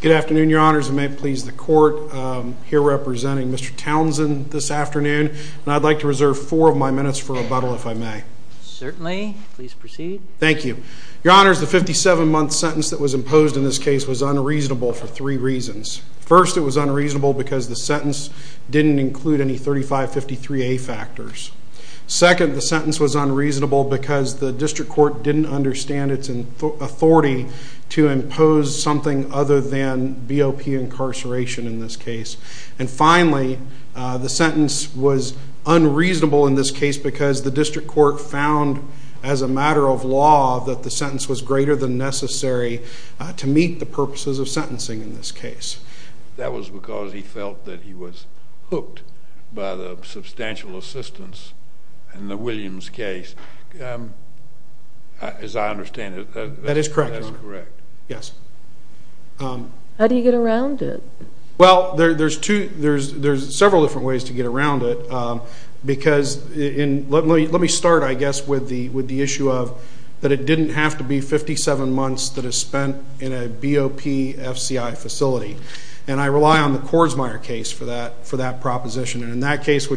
Good afternoon, your honors, and may it please the court, here representing Mr. Townsend this afternoon, and I'd like to reserve four of my minutes for rebuttal, if I may. Certainly. If I may, please proceed. Thank you. Your honors, the 57-month sentence that was imposed in this case was unreasonable for three reasons. First, it was unreasonable because the sentence didn't include any 3553A factors. Second, the sentence was unreasonable because the district court didn't understand its authority to impose something other than BOP incarceration in this case. And finally, the sentence was unreasonable in this case because the district court found, as a matter of law, that the sentence was greater than necessary to meet the purposes of sentencing in this case. That was because he felt that he was hooked by the substantial assistance in the Williams case. As I understand it, that is correct. That is correct, your honor. Yes. How do you get around it? Well, there's several different ways to get around it, because let me start, I guess, with the issue of that it didn't have to be 57 months that is spent in a BOPFCI facility. And I rely on the Kordsmeyer case for that proposition. And in that case,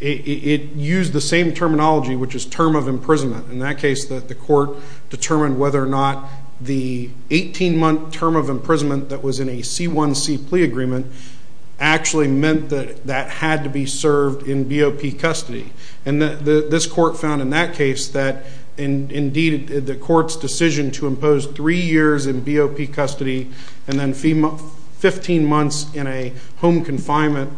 it used the same terminology, which is term of imprisonment. In that case, the court determined whether or not the 18-month term of imprisonment that was in a C1C plea agreement actually meant that that had to be served in BOP custody. And this court found in that case that, indeed, the court's decision to impose three years in BOP custody and then 15 months in a home confinement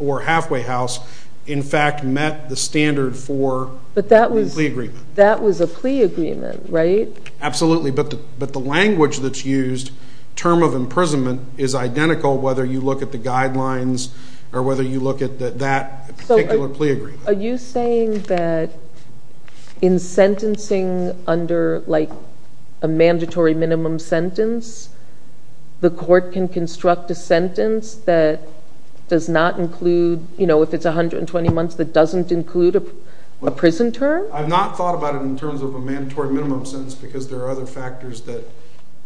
or halfway house, in fact, met the standard for the plea agreement. That was a plea agreement, right? Absolutely. But the language that's used, term of imprisonment, is identical whether you look at the guidelines or whether you look at that particular plea agreement. Are you saying that in sentencing under, like, a mandatory minimum sentence, the court can construct a sentence that does not include, you know, if it's 120 months, that doesn't include a prison term? I've not thought about it in terms of a mandatory minimum sentence because there are other factors that,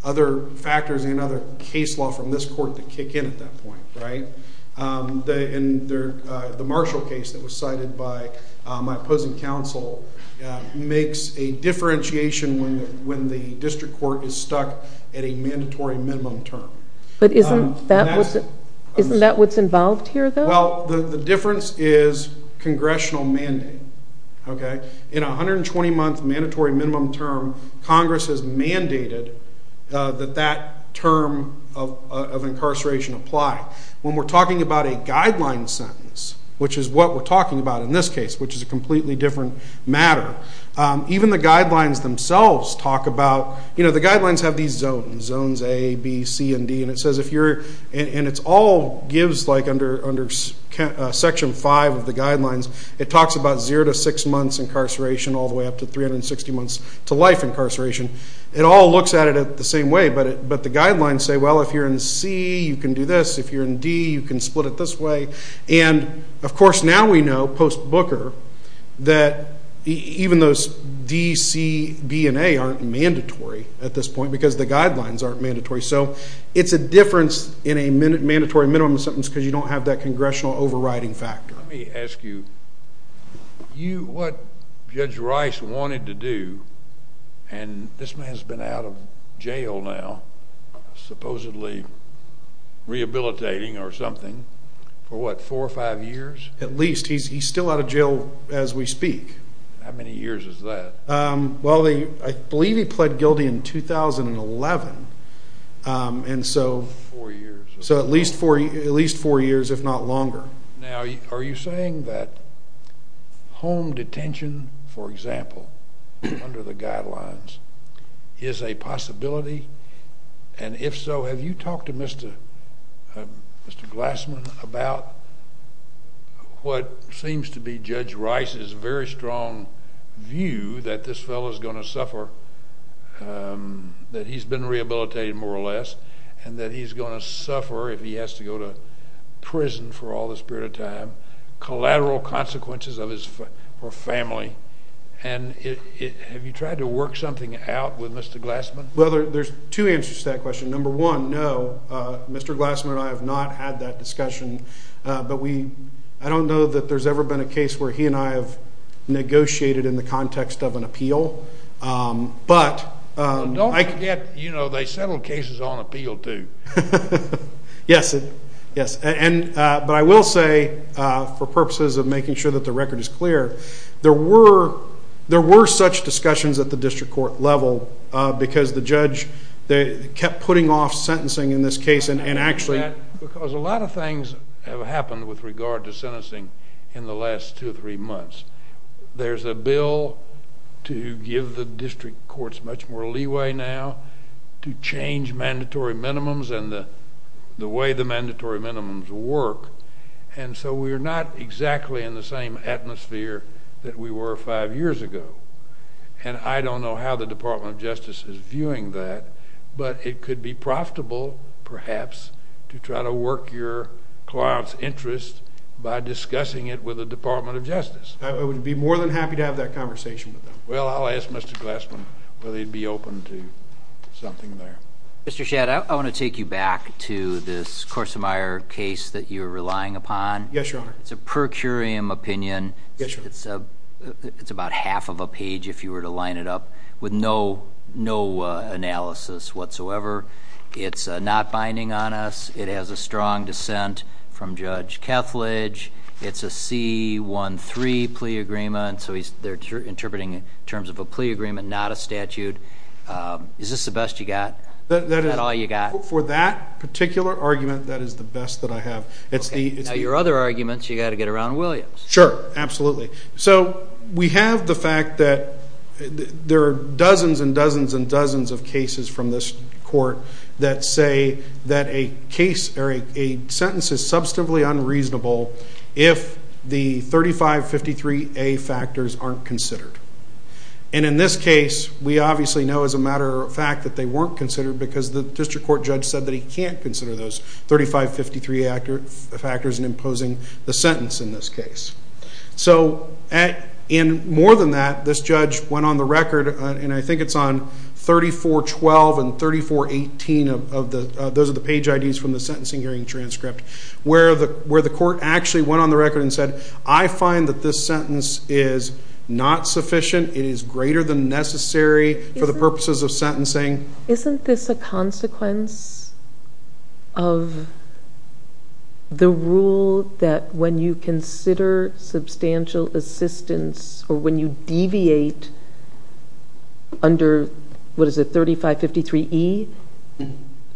other factors and other case law from this court that kick in at that point, right? The Marshall case that was cited by my opposing counsel makes a differentiation when the district court is stuck at a mandatory minimum term. But isn't that what's involved here, though? Well, the difference is congressional mandate, okay? In a 120-month mandatory minimum term, Congress has mandated that that term of incarceration apply. When we're talking about a guideline sentence, which is what we're talking about in this case, which is a completely different matter, even the guidelines themselves talk about, you know, the guidelines have these zones, zones A, B, C, and D, and it says if you're And it all gives, like, under Section 5 of the guidelines, it talks about 0 to 6 months incarceration all the way up to 360 months to life incarceration. It all looks at it the same way, but the guidelines say, well, if you're in C, you can do this. If you're in D, you can split it this way. And of course, now we know, post-Booker, that even those D, C, B, and A aren't mandatory at this point because the guidelines aren't mandatory. So it's a difference in a mandatory minimum sentence because you don't have that congressional overriding factor. Let me ask you, what Judge Rice wanted to do, and this man's been out of jail now, supposedly rehabilitating or something, for what, four or five years? At least. He's still out of jail as we speak. How many years is that? Well, I believe he pled guilty in 2011, and so at least four years, if not longer. Now, are you saying that home detention, for example, under the guidelines, is a possibility? And if so, have you talked to Mr. Glassman about what seems to be Judge Rice's very strong view that this fellow's going to suffer, that he's been rehabilitated more or less, and that he's going to suffer if he has to go to prison for all this period of time, collateral consequences of his family? And have you tried to work something out with Mr. Glassman? Well, there's two answers to that question. Number one, no. Mr. Glassman and I have not had that discussion, but I don't know that there's ever been a negotiation in the context of an appeal. But don't forget, you know, they settled cases on appeal, too. Yes. Yes. But I will say, for purposes of making sure that the record is clear, there were such discussions at the district court level because the judge kept putting off sentencing in this case and actually... I know that because a lot of things have happened with regard to sentencing in the last two or three months. There's a bill to give the district courts much more leeway now to change mandatory minimums and the way the mandatory minimums work. And so we're not exactly in the same atmosphere that we were five years ago. And I don't know how the Department of Justice is viewing that, but it could be profitable perhaps to try to work your client's interest by discussing it with the Department of Justice. I would be more than happy to have that conversation with them. Well, I'll ask Mr. Glassman whether he'd be open to something there. Mr. Shadd, I want to take you back to this Korsemeyer case that you're relying upon. Yes, Your Honor. It's a per curiam opinion. It's about half of a page, if you were to line it up, with no analysis whatsoever. It's not binding on us. It has a strong dissent from Judge Kethledge. It's a C-1-3 plea agreement, so they're interpreting it in terms of a plea agreement, not a statute. Is this the best you got? Is that all you got? For that particular argument, that is the best that I have. Now, your other arguments, you've got to get around Williams. Sure, absolutely. So we have the fact that there are dozens and dozens and dozens of cases from this court that say that a sentence is substantively unreasonable if the 3553A factors aren't considered. And in this case, we obviously know as a matter of fact that they weren't considered because the district court judge said that he can't consider those 3553A factors in imposing the sentence in this case. So more than that, this judge went on the record, and I think it's on 3412 and 3418, those are the page IDs from the sentencing hearing transcript, where the court actually went on the record and said, I find that this sentence is not sufficient, it is greater Isn't this a consequence of the rule that when you consider substantial assistance or when you deviate under, what is it, 3553E?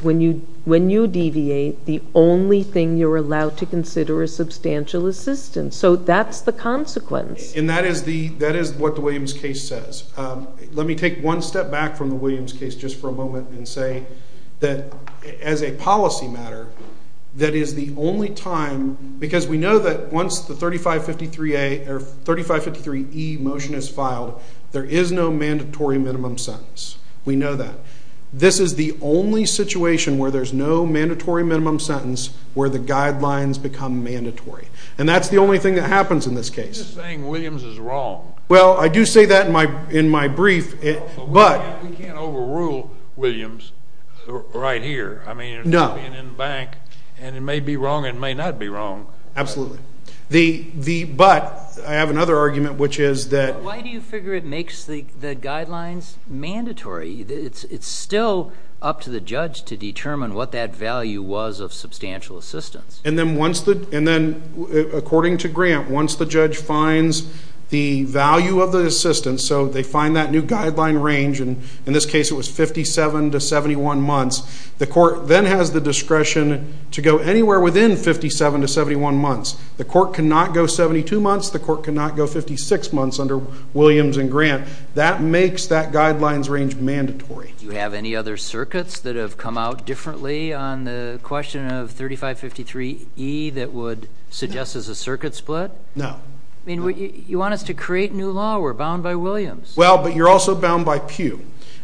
When you deviate, the only thing you're allowed to consider is substantial assistance. So that's the consequence. And that is what the Williams case says. Let me take one step back from the Williams case just for a moment and say that as a policy matter, that is the only time, because we know that once the 3553A or 3553E motion is filed, there is no mandatory minimum sentence. We know that. This is the only situation where there's no mandatory minimum sentence where the guidelines become mandatory. And that's the only thing that happens in this case. You're saying Williams is wrong. Well, I do say that in my brief. But we can't overrule Williams right here. I mean, it's being in the bank, and it may be wrong and may not be wrong. Absolutely. But I have another argument, which is that why do you figure it makes the guidelines mandatory? It's still up to the judge to determine what that value was of substantial assistance. And then according to Grant, once the judge finds the value of the assistance, so they find that new guideline range, and in this case it was 57 to 71 months, the court then has the discretion to go anywhere within 57 to 71 months. The court cannot go 72 months. The court cannot go 56 months under Williams and Grant. That makes that guidelines range mandatory. Do you have any other circuits that have come out differently on the question of 3553E that would suggest as a circuit split? No. I mean, you want us to create new law. We're bound by Williams. Well, but you're also bound by Pew.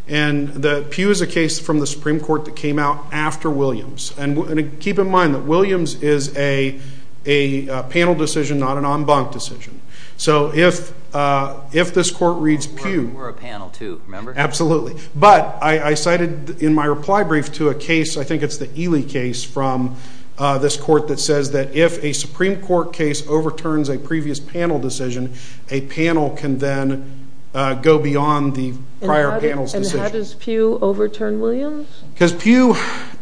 And the Pew is a case from the Supreme Court that came out after Williams. And keep in mind that Williams is a panel decision, not an en banc decision. So if this court reads Pew... We're a panel too, remember? Absolutely. But I cited in my reply brief to a case, I think it's the Ely case from this court that says that if a Supreme Court case overturns a previous panel decision, a panel can then go beyond the prior panel's decision. And how does Pew overturn Williams? Because Pew,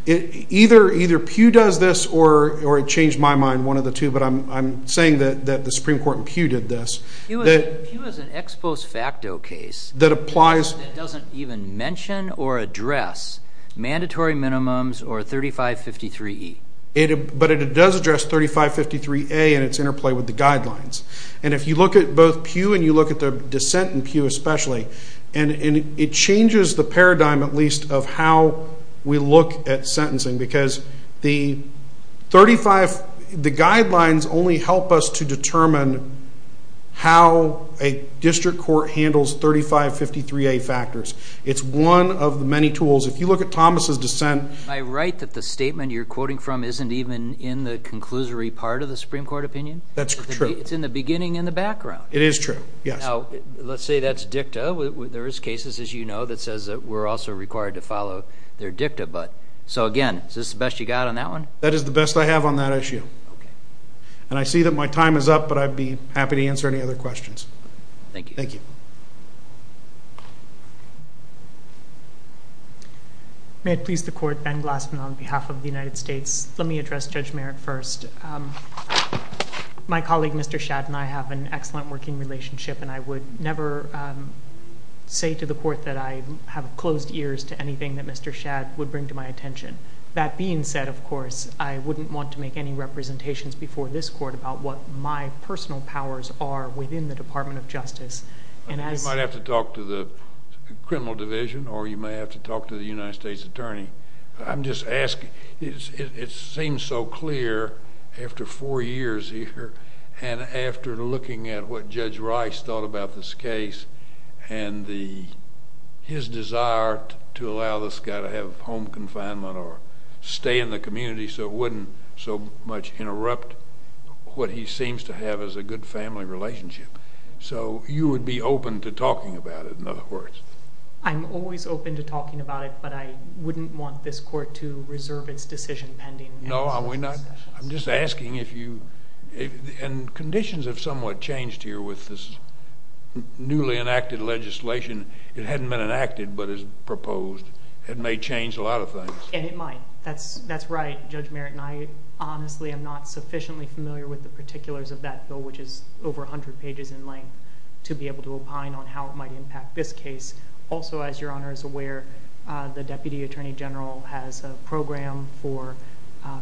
either Pew does this or it changed my mind, one of the two, but I'm saying that the Supreme Court and Pew did this. Pew is an ex post facto case. That applies... That doesn't even mention or address mandatory minimums or 3553E. But it does address 3553A and its interplay with the guidelines. And if you look at both Pew and you look at the dissent in Pew especially, and it changes the paradigm at least of how we look at sentencing because the 35... 3553A factors. It's one of the many tools. If you look at Thomas's dissent... I write that the statement you're quoting from isn't even in the conclusory part of the Supreme Court opinion. That's true. It's in the beginning and the background. It is true. Yes. Now, let's say that's dicta. There is cases, as you know, that says that we're also required to follow their dicta. So again, is this the best you got on that one? That is the best I have on that issue. And I see that my time is up, but I'd be happy to answer any other questions. Thank you. Thank you. May it please the court, Ben Glassman on behalf of the United States. Let me address Judge Merritt first. My colleague, Mr. Shadd, and I have an excellent working relationship and I would never say to the court that I have closed ears to anything that Mr. Shadd would bring to my attention. That being said, of course, I wouldn't want to make any representations before this court about what my personal powers are within the Department of Justice. You might have to talk to the criminal division or you may have to talk to the United States attorney. I'm just asking. It seems so clear after four years here and after looking at what Judge Rice thought about this case and his desire to allow this guy to have home confinement or stay in the community so it wouldn't so much interrupt what he seems to have as a good family relationship. So you would be open to talking about it, in other words. I'm always open to talking about it, but I wouldn't want this court to reserve its decision pending. No, are we not? I'm just asking if you—and conditions have somewhat changed here with this newly enacted legislation. It hadn't been enacted, but it's proposed. It may change a lot of things. And it might. That's right, Judge Merritt, and I honestly am not sufficiently familiar with the particulars of that bill, which is over 100 pages in length, to be able to opine on how it might impact this case. Also, as Your Honor is aware, the deputy attorney general has a program for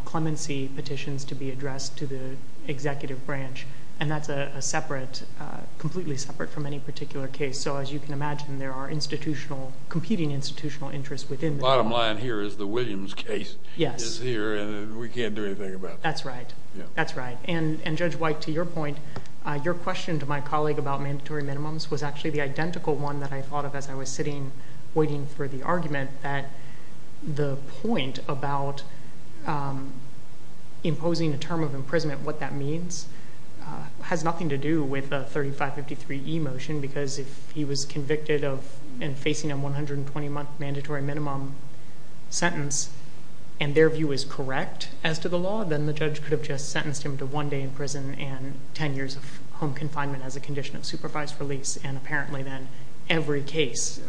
clemency petitions to be addressed to the executive branch, and that's a separate—completely separate from any particular case. So as you can imagine, there are institutional—competing institutional interests within this. The bottom line here is the Williams case is here, and we can't do anything about it. That's right. That's right. And Judge White, to your point, your question to my colleague about mandatory minimums was actually the identical one that I thought of as I was sitting waiting for the argument, that the point about imposing a term of imprisonment, what that means, has nothing to do with the If he was convicted of and facing a 120-month mandatory minimum sentence and their view is correct as to the law, then the judge could have just sentenced him to one day in prison and 10 years of home confinement as a condition of supervised release, and apparently then every case,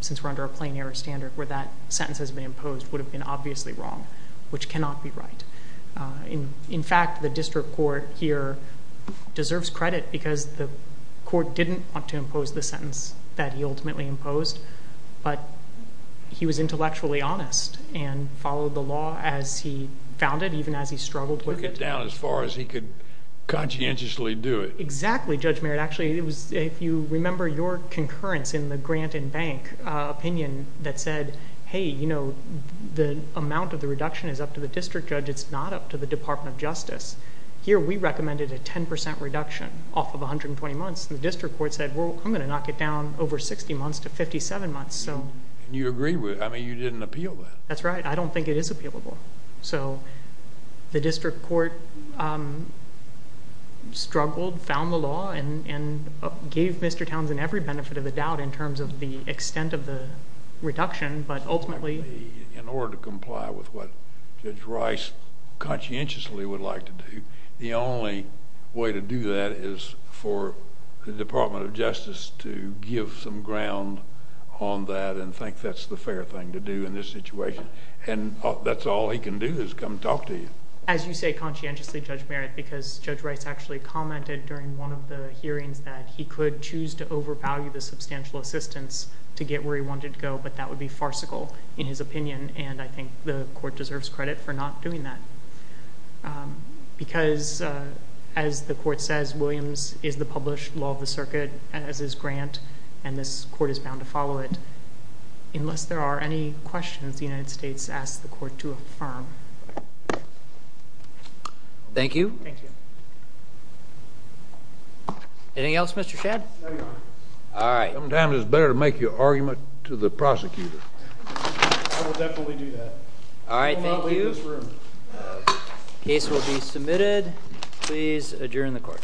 since we're under a plain-error standard where that sentence has been imposed, would have been obviously wrong, which cannot be right. In fact, the district court here deserves credit because the court didn't want to impose the sentence that he ultimately imposed, but he was intellectually honest and followed the law as he found it, even as he struggled with it. Took it down as far as he could conscientiously do it. Exactly, Judge Merritt. Actually, if you remember your concurrence in the Grant and Bank opinion that said, hey, you know, the amount of the reduction is up to the district judge. It's not up to the Department of Justice. Here we recommended a 10% reduction off of 120 months, and the district court said, well, I'm going to knock it down over 60 months to 57 months, so... And you agreed with... I mean, you didn't appeal that. That's right. I don't think it is appealable. So, the district court struggled, found the law, and gave Mr. Townsend every benefit of the doubt in terms of the extent of the reduction, but ultimately... In order to comply with what Judge Rice conscientiously would like to do, the only way to do that is for the Department of Justice to give some ground on that and think that's the fair thing to do in this situation, and that's all he can do is come talk to you. As you say conscientiously, Judge Merritt, because Judge Rice actually commented during one of the hearings that he could choose to overvalue the substantial assistance to get where he wanted to go, but that would be farcical in his opinion, and I think the court deserves credit for not doing that. Because, as the court says, Williams is the published law of the circuit, as is Grant, and this court is bound to follow it. Unless there are any questions, the United States asks the court to affirm. Thank you. Thank you. Anything else, Mr. Shadd? No, Your Honor. All right. Sometimes it's better to make your argument to the prosecutor. I will definitely do that. All right, thank you. Thank you. Case will be submitted. Please adjourn the court.